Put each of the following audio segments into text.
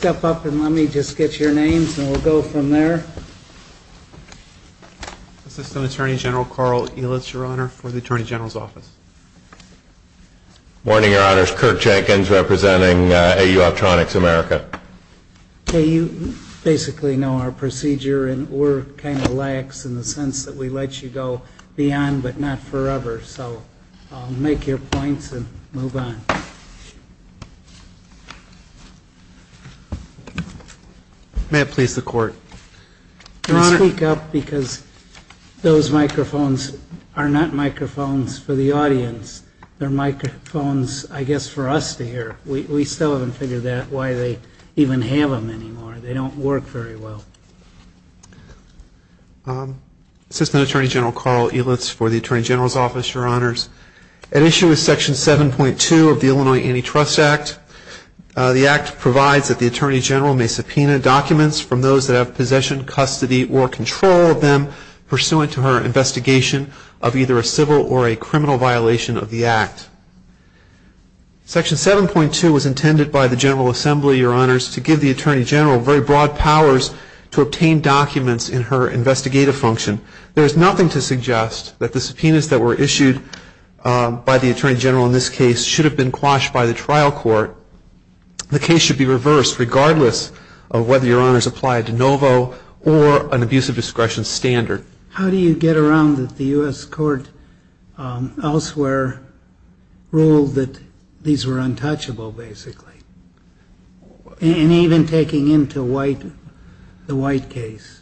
Step up and let me just get your names and we'll go from there. Assistant Attorney General Carl Ehlertz, Your Honor, for the Attorney General's Office. Morning, Your Honors. Kirk Jenkins representing AU Optronics America. You basically know our procedure and we're kind of lax in the sense that we let you go beyond but not forever. So I'll make your points and move on. May it please the Court. Can I speak up because those microphones are not microphones for the audience. They're microphones, I guess, for us to hear. We still haven't figured out why they even have them anymore. They don't work very well. Assistant Attorney General Carl Ehlertz, for the Attorney General's Office, Your Honors. At issue is Section 7.2 of the Illinois Antitrust Act. The Act provides that the Attorney General may subpoena documents from those that have possession, custody, or control of them pursuant to her investigation of either a civil or a criminal violation of the Act. Section 7.2 was intended by the General Assembly, Your Honors, to give the Attorney General very broad powers to obtain documents in her investigative function. There's nothing to suggest that the subpoenas that were issued by the Attorney General in this case should have been quashed by the trial court. The case should be reversed regardless of whether Your Honors apply a de novo or an abuse of discretion standard. How do you get around that the U.S. Court elsewhere ruled that these were untouchable, basically? And even taking into the White case?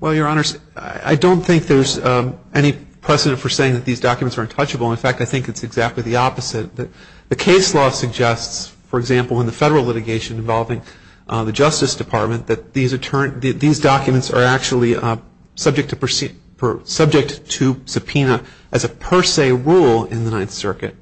Well, Your Honors, I don't think there's any precedent for saying that these documents are untouchable. In fact, I think it's exactly the opposite. The case law suggests, for example, in the federal litigation involving the Justice Department, that these documents are actually subject to subpoena as a per se rule in the Ninth Circuit.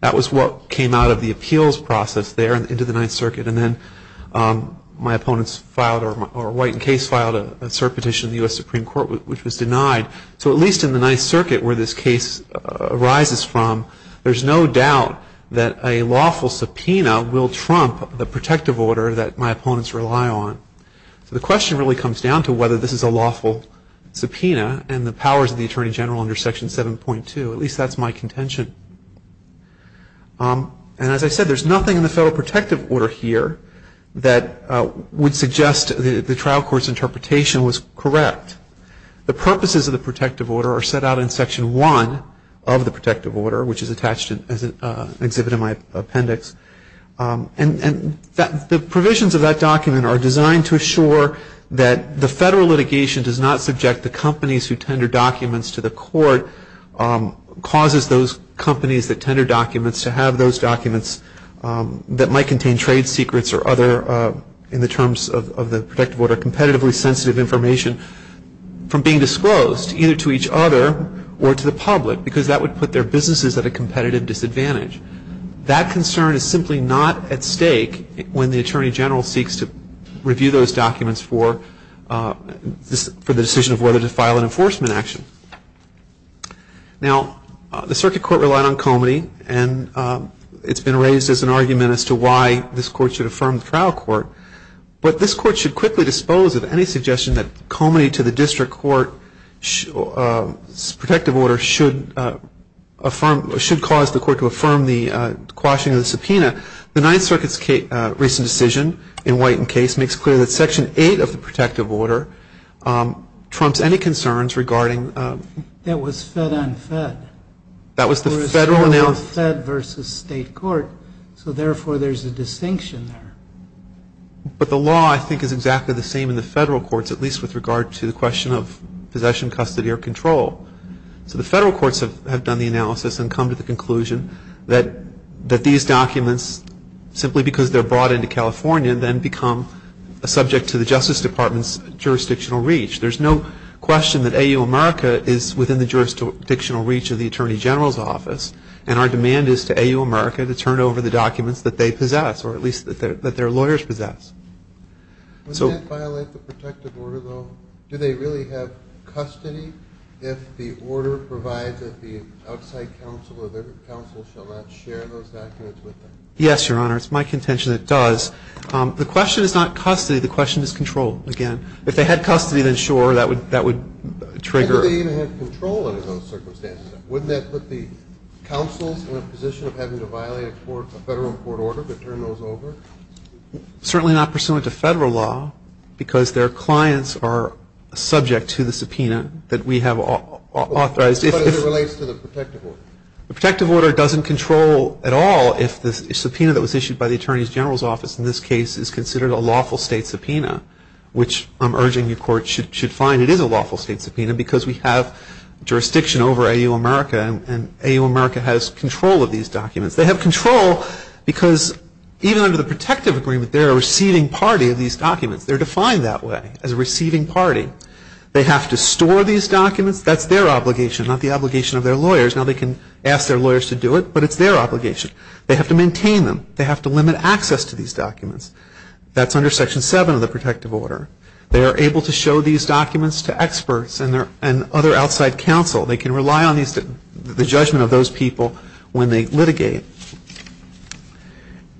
That was what came out of the appeals process there into the Ninth Circuit. And then my opponents filed, or a White case filed a cert petition in the U.S. Supreme Court, which was denied. So at least in the Ninth Circuit, where this case arises from, there's no doubt that a lawful subpoena will trump the protective order that my opponents rely on. So the question really comes down to whether this is a lawful subpoena and the powers of the Attorney General under Section 7.2. At least that's my contention. And as I said, there's nothing in the federal protective order here that would suggest the trial court's interpretation was correct. The purposes of the protective order are set out in Section 1 of the protective order, which is attached as an exhibit in my appendix. And the provisions of that document are designed to assure that the federal litigation does not subject the companies who tender documents to the court, causes those companies that tender documents to have those documents that might contain trade secrets or other, in the terms of the protective order, competitively sensitive information from being disclosed, either to each other or to the public, because that would put their businesses at a competitive disadvantage. That concern is simply not at stake when the Attorney General seeks to review those documents for the decision of whether to file an enforcement action. Now, the circuit court relied on Comity, and it's been raised as an argument as to why this court should affirm the trial court. But this court should quickly dispose of any suggestion that Comity to the district court's protective order should affirm, should cause the court to affirm the quashing of the subpoena. The Ninth Circuit's recent decision in White and Case makes clear that Section 8 of the protective order trumps any concerns regarding. That was fed on fed. That was the federal analysis. Fed versus state court. So, therefore, there's a distinction there. But the law, I think, is exactly the same in the federal courts, at least with regard to the question of possession, custody, or control. So, the federal courts have done the analysis and come to the conclusion that these documents, simply because they're brought into California, then become a subject to the Justice Department's jurisdictional reach. There's no question that AU America is within the jurisdictional reach of the Attorney General's office, and our demand is to AU America to turn over the documents that they possess, or at least that their lawyers possess. So. Wouldn't it violate the protective order, though? Do they really have custody if the order provides that the outside counsel or their counsel shall not share those documents with them? Yes, Your Honor. It's my contention that it does. The question is not custody. The question is control, again. If they had custody, then sure, that would trigger. Wouldn't they even have control under those circumstances? Wouldn't that put the counsels in a position of having to violate a federal court order to turn those over? Certainly not pursuant to federal law, because their clients are subject to the subpoena that we have authorized. But as it relates to the protective order? The protective order doesn't control at all if the subpoena that was issued by the Attorney General's office in this case is considered a lawful state subpoena, which I'm urging your court should find. It is a lawful state subpoena, because we have jurisdiction over AU America, and AU America has control of these documents. They have control because even under the protective agreement, they're a receiving party of these documents. They're defined that way, as a receiving party. They have to store these documents. That's their obligation, not the obligation of their lawyers. Now they can ask their lawyers to do it, but it's their obligation. They have to maintain them. They have to limit access to these documents. That's under Section 7 of the protective order. They are able to show these documents to experts and other outside counsel. They can rely on the judgment of those people when they litigate.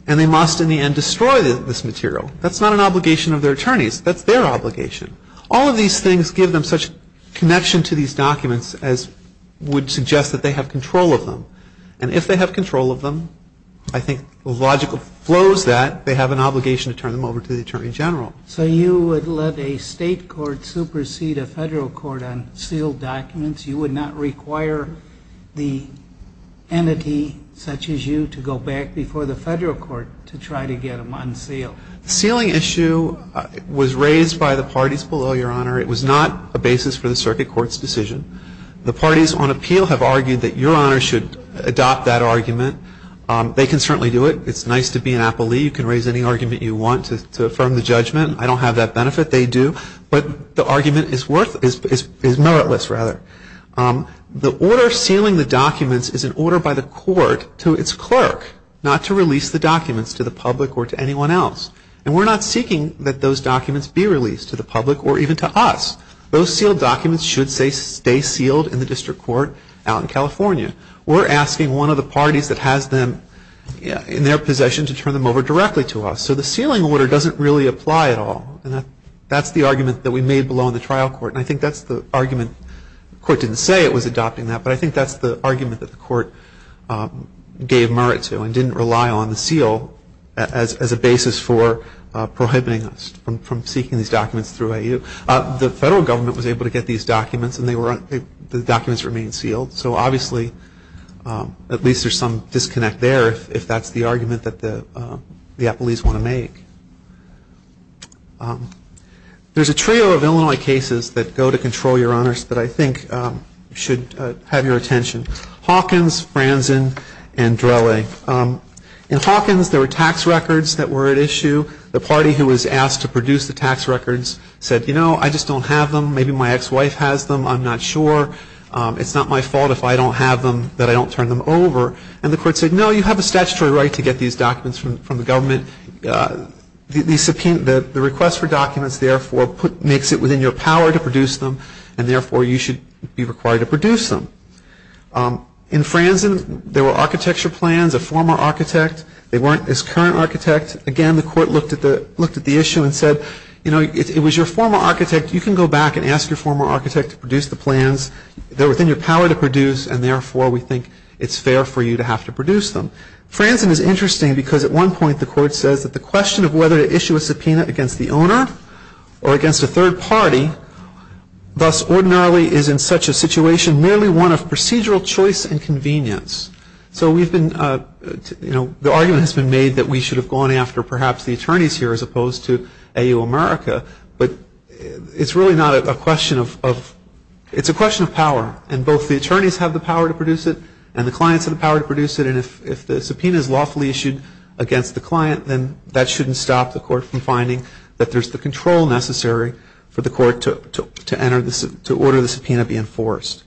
And they must, in the end, destroy this material. That's not an obligation of their attorneys. That's their obligation. All of these things give them such connection to these documents as would suggest that they have control of them. And if they have control of them, I think the logical flow is that they have an obligation to turn them over to the Attorney General. So you would let a state court supersede a federal court on sealed documents? You would not require the entity, such as you, to go back before the federal court to try to get them unsealed? Sealing issue was raised by the parties below, Your Honor. It was not a basis for the circuit court's decision. The parties on appeal have argued that Your Honor should adopt that argument. They can certainly do it. It's nice to be an appellee. You can raise any argument you want to affirm the judgment. I don't have that benefit. But the argument is meritless, rather. The order sealing the documents is an order by the court to its clerk, not to release the documents to the public or to anyone else. And we're not seeking that those documents be released to the public or even to us. Those sealed documents should stay sealed in the district court out in California. We're asking one of the parties that has them in their possession to turn them over directly to us. So the sealing order doesn't really apply at all. That's the argument that we made below in the trial court. And I think that's the argument, the court didn't say it was adopting that, but I think that's the argument that the court gave merit to and didn't rely on the seal as a basis for prohibiting us from seeking these documents through AU. The federal government was able to get these documents and the documents remained sealed. So obviously, at least there's some disconnect there if that's the argument that the appellees want to make. There's a trio of Illinois cases that go to control, Your Honors, that I think should have your attention. Hawkins, Franzen, and Drelle. In Hawkins, there were tax records that were at issue. The party who was asked to produce the tax records said, you know, I just don't have them. Maybe my ex-wife has them. I'm not sure. It's not my fault if I don't have them that I don't turn them over. And the court said, no, you have a statutory right to get these documents from the government. The request for documents, therefore, makes it within your power to produce them and therefore you should be required to produce them. In Franzen, there were architecture plans, a former architect. They weren't his current architect. Again, the court looked at the issue and said, you know, if it was your former architect, you can go back and ask your former architect to produce the plans. They're within your power to produce and therefore we think it's fair for you to have to produce them. Franzen is interesting because at one point the court says that the question of whether to issue a subpoena against the owner or against a third party, thus ordinarily is in such a situation merely one of procedural choice and convenience. So we've been, you know, the argument has been made that we should have gone after perhaps the attorneys here as opposed to AU America. But it's really not a question of, it's a question of power. And both the attorneys have the power to produce it and the clients have the power to produce it. And if the subpoena is lawfully issued against the client, then that shouldn't stop the court from finding that there's the control necessary for the court to order the subpoena be enforced.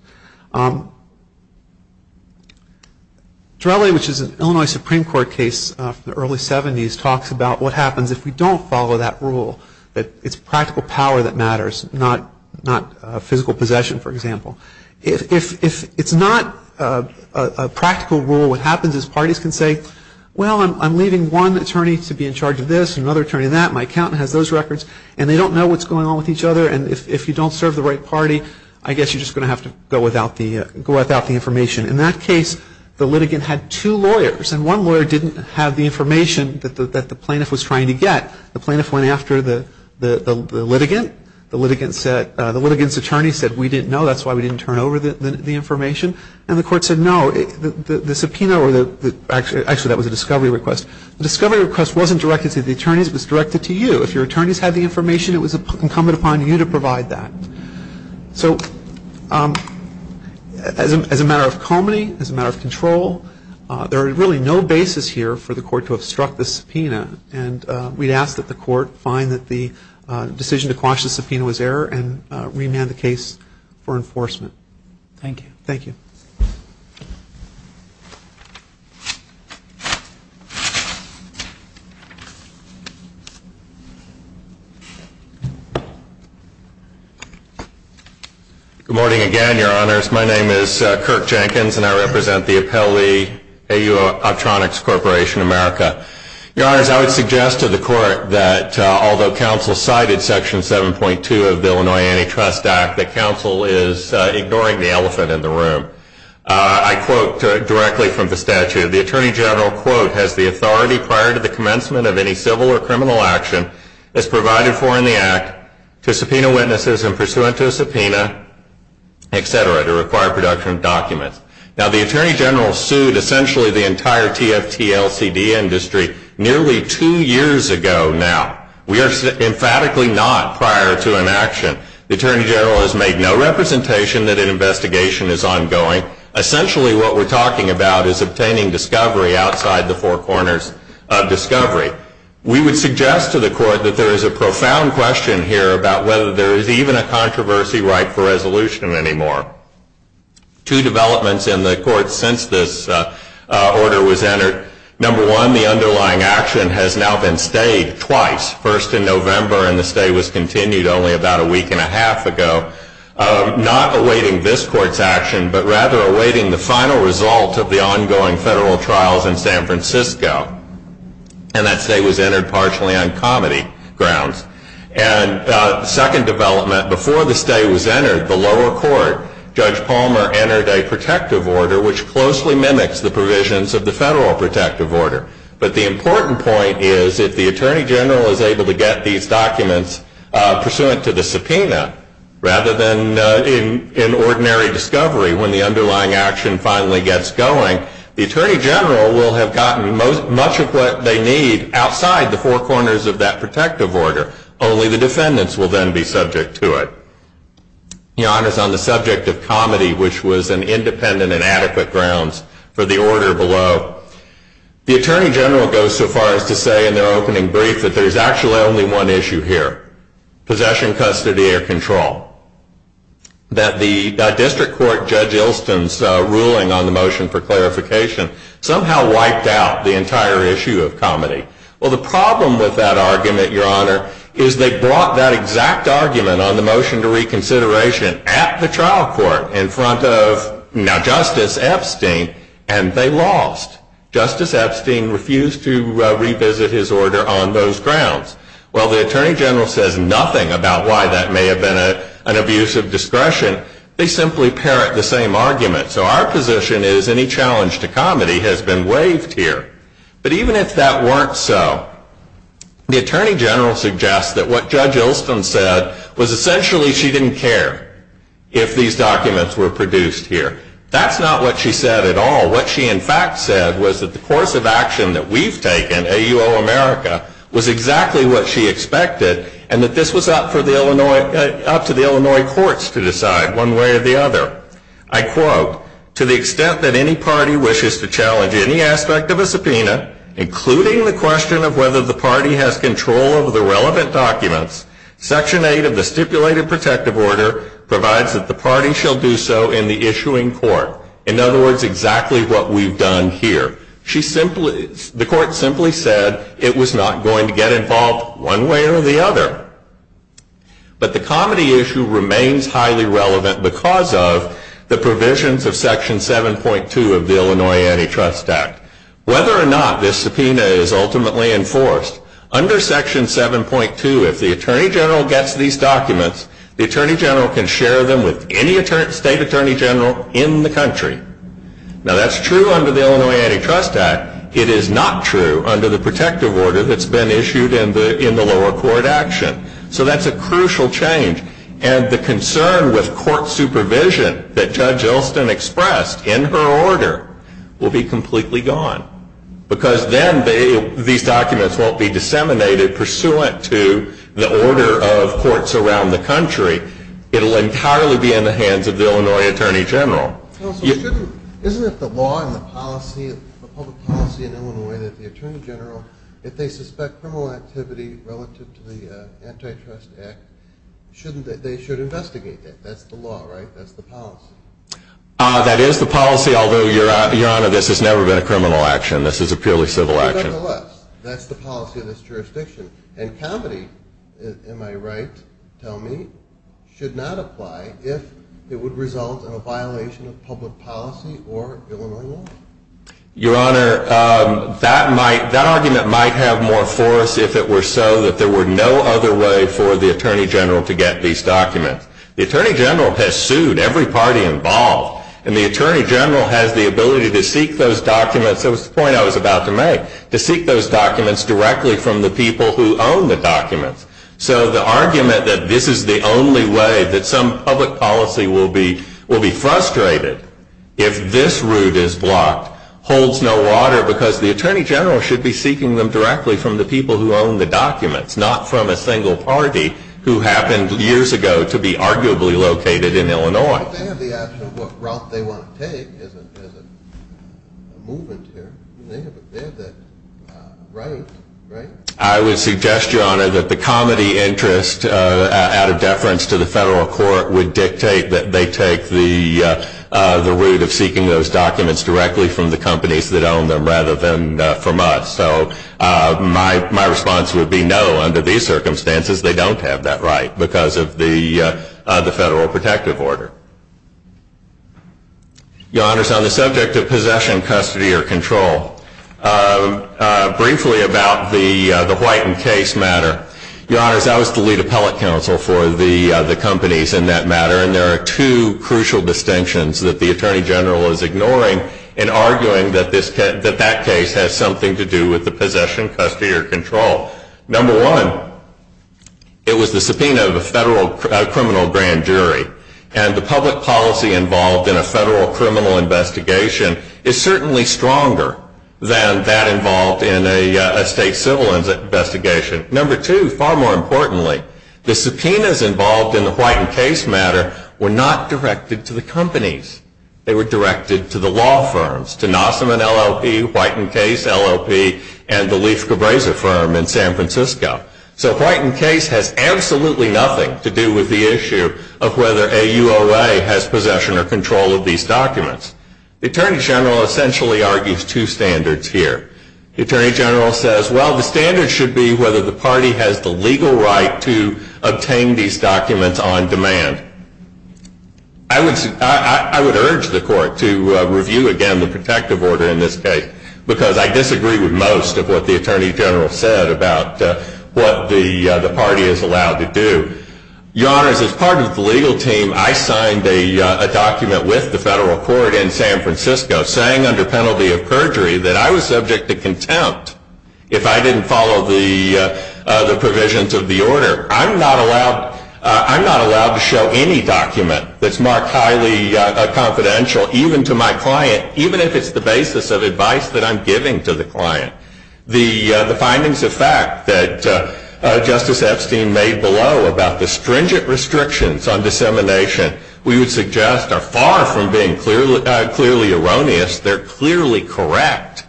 Torelli, which is an Illinois Supreme Court case from the early 70s, talks about what happens if we don't follow that rule, that it's practical power that matters, not physical possession, for example. If it's not a practical rule, what happens is parties can say, well, I'm leaving one attorney to be in charge of this and another attorney that. My accountant has those records. And they don't know what's going on with each other. And if you don't serve the right party, I guess you're just going to have to go without the information. In that case, the litigant had two lawyers. And one lawyer didn't have the information that the plaintiff was trying to get. The plaintiff went after the litigant. The litigant's attorney said, we didn't know. That's why we didn't turn over the information. And the court said, no, the subpoena, or actually that was a discovery request. The discovery request wasn't directed to the attorneys. It was directed to you. If your attorneys had the information, it was incumbent upon you to provide that. So as a matter of comity, as a matter of control, there are really no bases here for the court to obstruct the subpoena. And we'd ask that the court find that the decision to quash the subpoena was error and remand the case for enforcement. Thank you. Thank you. Good morning again, Your Honors. My name is Kirk Jenkins, and I represent the appellee, AU Optronics Corporation America. Your Honors, I would suggest to the court that although counsel cited Section 7.2 of the Illinois Antitrust Act, that counsel is ignoring the elephant in the room. I quote directly from the statute. The attorney general, quote, has the authority prior to the commencement of any civil or criminal action as provided for in the act to subpoena witnesses and pursuant to a subpoena, et cetera, to require production of documents. Now, the attorney general sued essentially the entire TFT LCD industry nearly two years ago now. We are emphatically not prior to an action. The attorney general has made no representation that an investigation is ongoing. Essentially, what we're talking about is obtaining discovery outside the four corners of discovery. We would suggest to the court that there is a profound question here about whether there is even a controversy right for resolution anymore. Two developments in the court since this order was entered. Number one, the underlying action has now been stayed twice, first in November and the stay was continued only about a week and a half ago, not awaiting this court's action, but rather awaiting the final result of the ongoing federal trials in San Francisco. And that stay was entered partially on comedy grounds. And the second development, before the stay was entered, the lower court, Judge Palmer entered a protective order which closely mimics the provisions of the federal protective order. But the important point is if the attorney general is able to get these documents pursuant to the subpoena rather than in ordinary discovery when the underlying action finally gets going, the attorney general will have gotten much of what they need outside the four corners of that protective order. Only the defendants will then be subject to it. He honors on the subject of comedy, which was an independent and adequate grounds for the order below, the attorney general goes so far as to say in their opening brief that there's actually only one issue here, possession, custody, or control. That the district court Judge Ilston's ruling on the motion for clarification somehow wiped out the entire issue of comedy. Well, the problem with that argument, Your Honor, is they brought that exact argument on the motion to reconsideration at the trial court in front of Justice Epstein, and they lost. Justice Epstein refused to revisit his order on those grounds. While the attorney general says nothing about why that may have been an abuse of discretion, they simply parrot the same argument. So our position is any challenge to comedy has been waived here. But even if that weren't so, the attorney general suggests that what Judge Ilston said was essentially she didn't care if these documents were produced here. That's not what she said at all. What she in fact said was that the course of action that we've taken, AUO America, was exactly what she expected, and that this was up to the Illinois courts to decide one way or the other. I quote, to the extent that any party wishes to challenge any aspect of a subpoena, including the question of whether the party has control of the relevant documents, Section 8 of the Stipulated Protective Order provides that the party shall do so in the issuing court, in other words, exactly what we've done here. She simply, the court simply said it was not going to get involved one way or the other. But the comedy issue remains highly relevant because of the provisions of Section 7.2 of the Illinois Antitrust Act. Whether or not this subpoena is ultimately enforced, under Section 7.2, if the attorney general gets these documents, the attorney general can share them with any state attorney general in the country. Now that's true under the Illinois Antitrust Act. It is not true under the protective order that's been issued in the lower court action. So that's a crucial change. And the concern with court supervision that Judge Ilston expressed in her order will be completely gone. Because then these documents won't be disseminated pursuant to the order of courts around the country, it'll entirely be in the hands of the Illinois attorney general. Isn't it the law and the policy, the public policy in Illinois that the attorney general, if they suspect criminal activity relative to the Antitrust Act, shouldn't they, they should investigate it? That's the law, right? That's the policy. That is the policy, although, Your Honor, this has never been a criminal action. This is a purely civil action. That's the policy of this jurisdiction. And comedy, am I right, tell me, should not apply if it would result in a violation of public policy or Illinois law? Your Honor, that argument might have more force if it were so that there were no other way for the attorney general to get these documents. The attorney general has sued every party involved, and the attorney general has the ability to seek those documents. That was the point I was about to make, to seek those documents directly from the people who own the documents. So the argument that this is the only way that some public policy will be frustrated if this route is blocked holds no water because the attorney general should be seeking them directly from the people who own the documents, not from a single party who happened years ago to be arguably located in Illinois. They have the option of what route they want to take as a movement here. They have that right, right? I would suggest, Your Honor, that the comedy interest out of deference to the federal court would dictate that they take the route of seeking those documents directly from the companies that own them rather than from us. So my response would be no. Under these circumstances, they don't have that right because of the federal protective order. Your Honors, on the subject of possession, custody, or control, briefly about the Whiten case matter. Your Honors, I was the lead appellate counsel for the companies in that matter, and there are two crucial distinctions that the attorney general is ignoring in arguing that that case has something to do with the possession, custody, or control. Number one, it was the subpoena of a federal criminal grand jury, and the public policy involved in a federal criminal investigation is certainly stronger than that involved in a state civil investigation. Number two, far more importantly, the subpoenas involved in the Whiten case matter were not directed to the companies. They were directed to the law firms, to Nossim and LLP, Whiten Case, LLP, and the Leif Cabreza firm in San Francisco. So Whiten Case has absolutely nothing to do with the issue of whether a UOA has possession or control of these documents. The attorney general essentially argues two standards here. The attorney general says, well, the standard should be whether the party has the legal right to obtain these documents on demand. I would urge the court to review again the protective order in this case, because I disagree with most of what the attorney general said about what the party is allowed to do. Your Honors, as part of the legal team, I signed a document with the federal court in San Francisco saying under penalty of perjury that I was subject to contempt if I didn't follow the provisions of the order. I'm not allowed to show any document that's marked highly confidential, even to my client, even if it's the basis of advice that I'm giving to the client. The findings of fact that Justice Epstein made below about the stringent restrictions on dissemination, we would suggest are far from being clearly erroneous. They're clearly correct.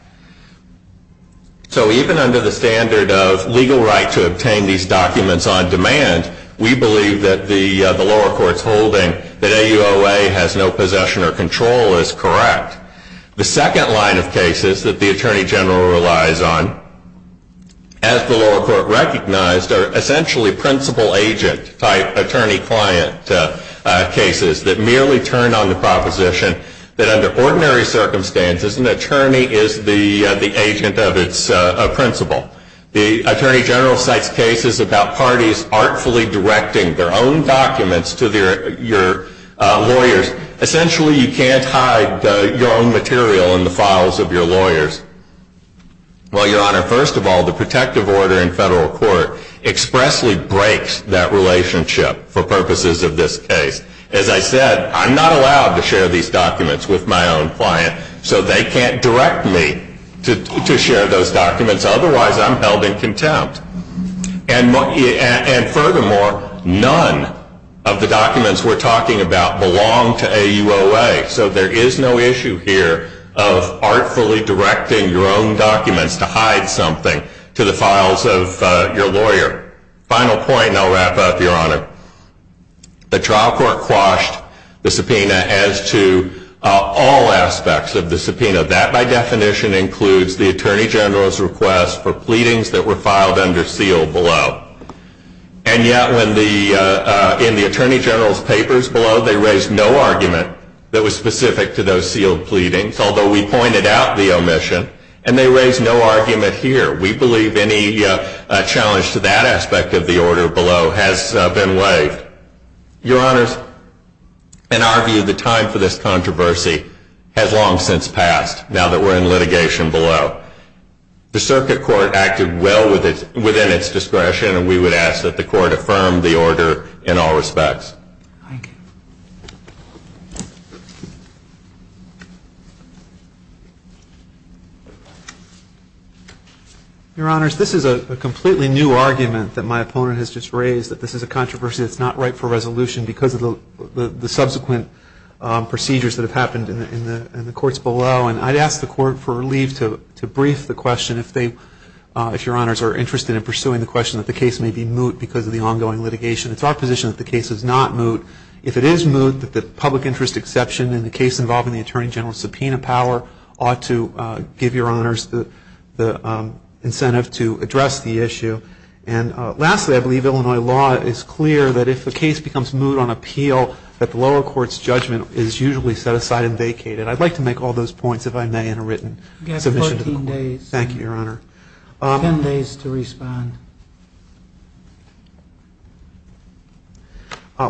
So even under the standard of legal right to obtain these documents on demand, we believe that the lower court's holding that AUOA has no possession or control is correct. The second line of cases that the attorney general relies on, as the lower court recognized, are essentially principal agent type attorney client cases that merely turn on the proposition The attorney general cites cases about parties artfully directing their own documents to their lawyers. Essentially, you can't hide your own material in the files of your lawyers. Well, Your Honor, first of all, the protective order in federal court expressly breaks that relationship for purposes of this case. As I said, I'm not allowed to share these documents with my own client, so they can't direct me to share those documents. Otherwise, I'm held in contempt. And furthermore, none of the documents we're talking about belong to AUOA. So there is no issue here of artfully directing your own documents to hide something to the files of your lawyer. Final point, and I'll wrap up, Your Honor. The trial court quashed the subpoena as to all aspects of the subpoena. That, by definition, includes the attorney general's request for pleadings that were filed under seal below. And yet, in the attorney general's papers below, they raised no argument that was specific to those sealed pleadings, although we pointed out the omission. And they raised no argument here. We believe any challenge to that aspect of the order below has been waived. Your Honors, in our view, the time for this controversy has long since passed, now that we're in litigation below. The circuit court acted well within its discretion, and we would ask that the court affirm the order in all respects. Your Honors, this is a completely new argument that my opponent has just raised, that this is a controversy that's not ripe for resolution because of the subsequent procedures that have happened in the courts below. And I'd ask the court for leave to brief the question, if they, if Your Honors, are interested in pursuing the question that the case may be moot because of the ongoing litigation. It's our position that the case is not moot. If it is moot, that the public interest exception in the case involving the attorney general's subpoena power ought to give Your Honors the incentive to address the issue. And lastly, I believe Illinois law is clear that if the case becomes moot on appeal, that the lower court's judgment is usually set aside and vacated. I'd like to make all those points, if I may, in a written submission to the court. Thank you, Your Honor. Ten days to respond.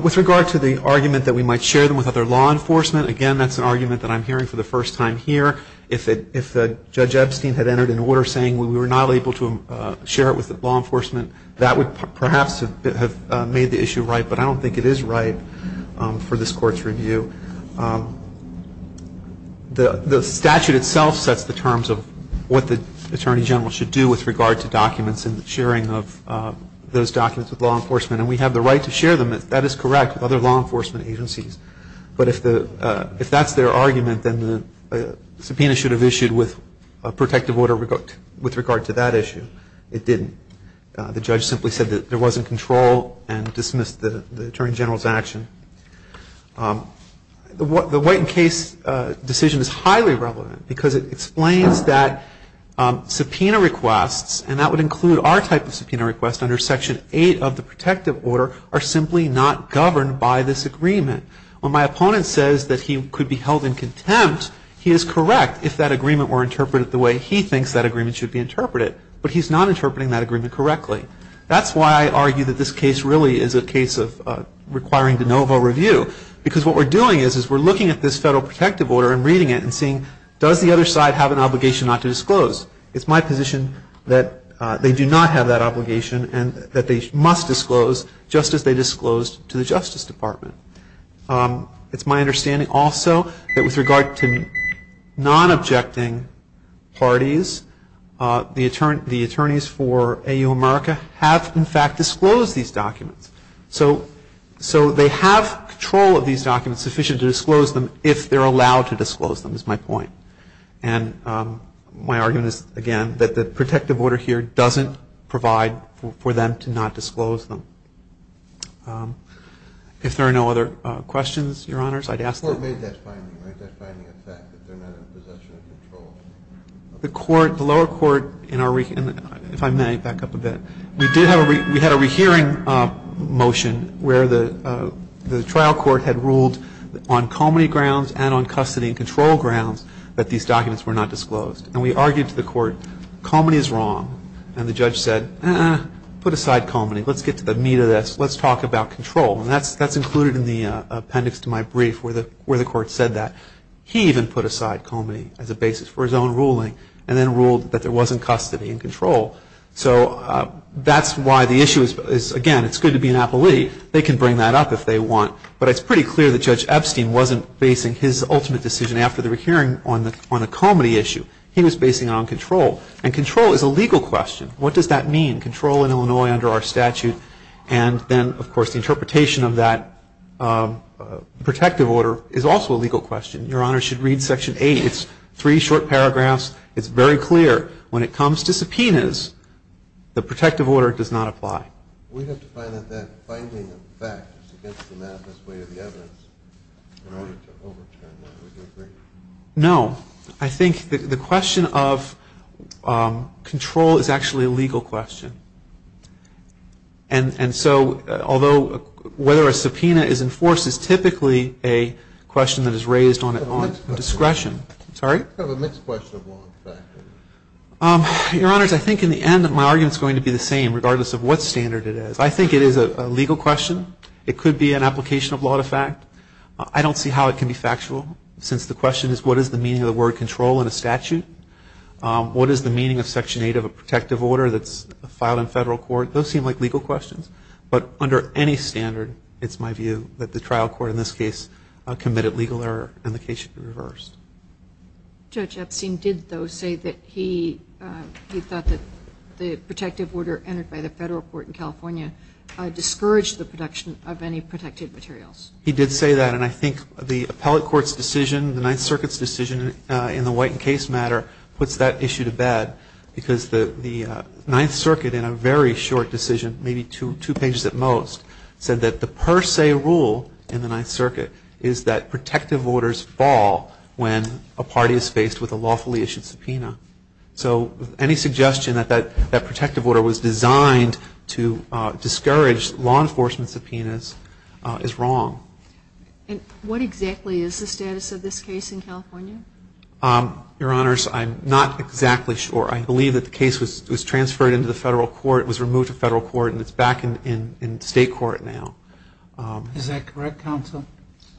With regard to the argument that we might share them with other law enforcement, again, that's an argument that I'm hearing for the first time here. If Judge Epstein had entered an order saying we were not able to share it with law enforcement, that would perhaps have made the issue ripe. But I don't think it is ripe for this court's review. The statute itself sets the terms of what the attorney general should do with regard to documents and sharing of those documents with law enforcement. And we have the right to share them, if that is correct, with other law enforcement agencies. But if that's their argument, then the subpoena should have issued with protective order with regard to that issue. It didn't. The judge simply said that there wasn't control and dismissed the attorney general's action. The White and Case decision is highly relevant because it explains that subpoena requests, and that would include our type of subpoena request under Section 8 of the protective order, are simply not governed by this agreement. When my opponent says that he could be held in contempt, he is correct if that way he thinks that agreement should be interpreted. But he's not interpreting that agreement correctly. That's why I argue that this case really is a case of requiring de novo review. Because what we're doing is we're looking at this federal protective order and reading it and seeing, does the other side have an obligation not to disclose? It's my position that they do not have that obligation and that they must disclose just as they disclosed to the Justice Department. It's my understanding also that with regard to non-objecting parties, the attorneys for AU America have in fact disclosed these documents. So they have control of these documents sufficient to disclose them if they're allowed to disclose them, is my point. And my argument is, again, that the protective order here doesn't provide for them to not disclose them. If there are no other questions, your honors, I'd ask that. The court made that finding, right? That finding of fact that they're not in possession of control. The lower court, if I may back up a bit, we had a rehearing motion where the trial court had ruled on comity grounds and on custody and control grounds that these documents were not disclosed. And we argued to the court, comity is wrong. And the judge said, put aside comity. Let's get to the meat of this. Let's talk about control. And that's included in the appendix to my brief where the court said that. He even put aside comity as a basis for his own ruling and then ruled that there wasn't custody and control. So that's why the issue is, again, it's good to be an appellee. They can bring that up if they want. But it's pretty clear that Judge Epstein wasn't basing his ultimate decision after the hearing on a comity issue. He was basing it on control. And control is a legal question. What does that mean? Control in Illinois under our statute. And then, of course, the interpretation of that protective order is also a legal question. Your honor should read section eight. It's three short paragraphs. It's very clear. When it comes to subpoenas, the protective order does not apply. We have to find out that finding a fact is against the math as way of the evidence. In order to overturn that, would you agree? No. I think the question of control is actually a legal question. And so, although whether a subpoena is enforced is typically a question that is raised on discretion. Sorry? It's kind of a mixed question of law and fact. Your honors, I think in the end, my argument's going to be the same, regardless of what standard it is. I think it is a legal question. It could be an application of law to fact. I don't see how it can be factual, since the question is, what is the meaning of the word control in a statute? What is the meaning of section eight of a protective order that's filed in federal court? Those seem like legal questions. But under any standard, it's my view that the trial court, in this case, committed legal error, and the case should be reversed. Judge Epstein did, though, say that he thought that the protective order entered by the federal court in California discouraged the production of any protected materials. He did say that. And I think the appellate court's decision, the Ninth Circuit's decision in the White and Case matter, puts that issue to bed. Because the Ninth Circuit, in a very short decision, maybe two pages at most, said that the per se rule in the Ninth Circuit is that protective orders fall when a party is faced with a lawfully issued subpoena. So any suggestion that that protective order was designed to discourage law enforcement subpoenas is wrong. And what exactly is the status of this case in California? Your Honors, I'm not exactly sure. I believe that the case was transferred into the federal court, was removed to federal court, and it's back in state court now. Is that correct, counsel?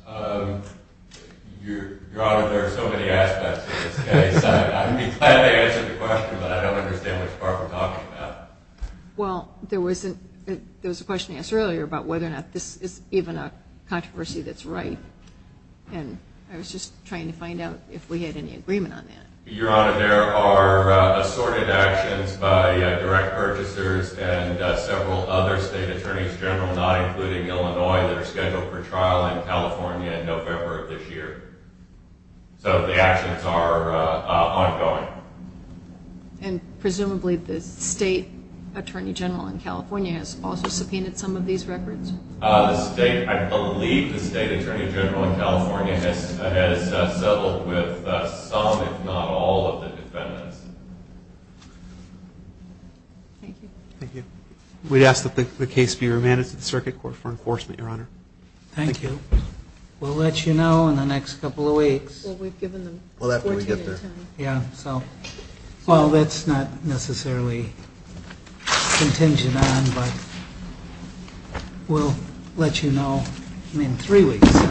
Your Honor, there are so many aspects of this case. I'd be glad to answer the question, but I don't understand which part we're talking about. Well, there was a question asked earlier about whether or not this is even a controversy that's right. And I was just trying to find out if we had any agreement on that. Your Honor, there are assorted actions by direct purchasers and several other state attorneys general, not including Illinois, that are scheduled for trial in California in November of this year. So the actions are ongoing. And presumably, the state attorney general in California has also subpoenaed some of these records. I believe the state attorney general in California has settled with some, if not all, of the defendants. Thank you. Thank you. We'd ask that the case be remanded to the circuit court for enforcement, Your Honor. Thank you. We'll let you know in the next couple of weeks. Well, we've given them 14 minutes. Yeah, so. Well, that's not necessarily contingent on, but we'll let you know in three weeks.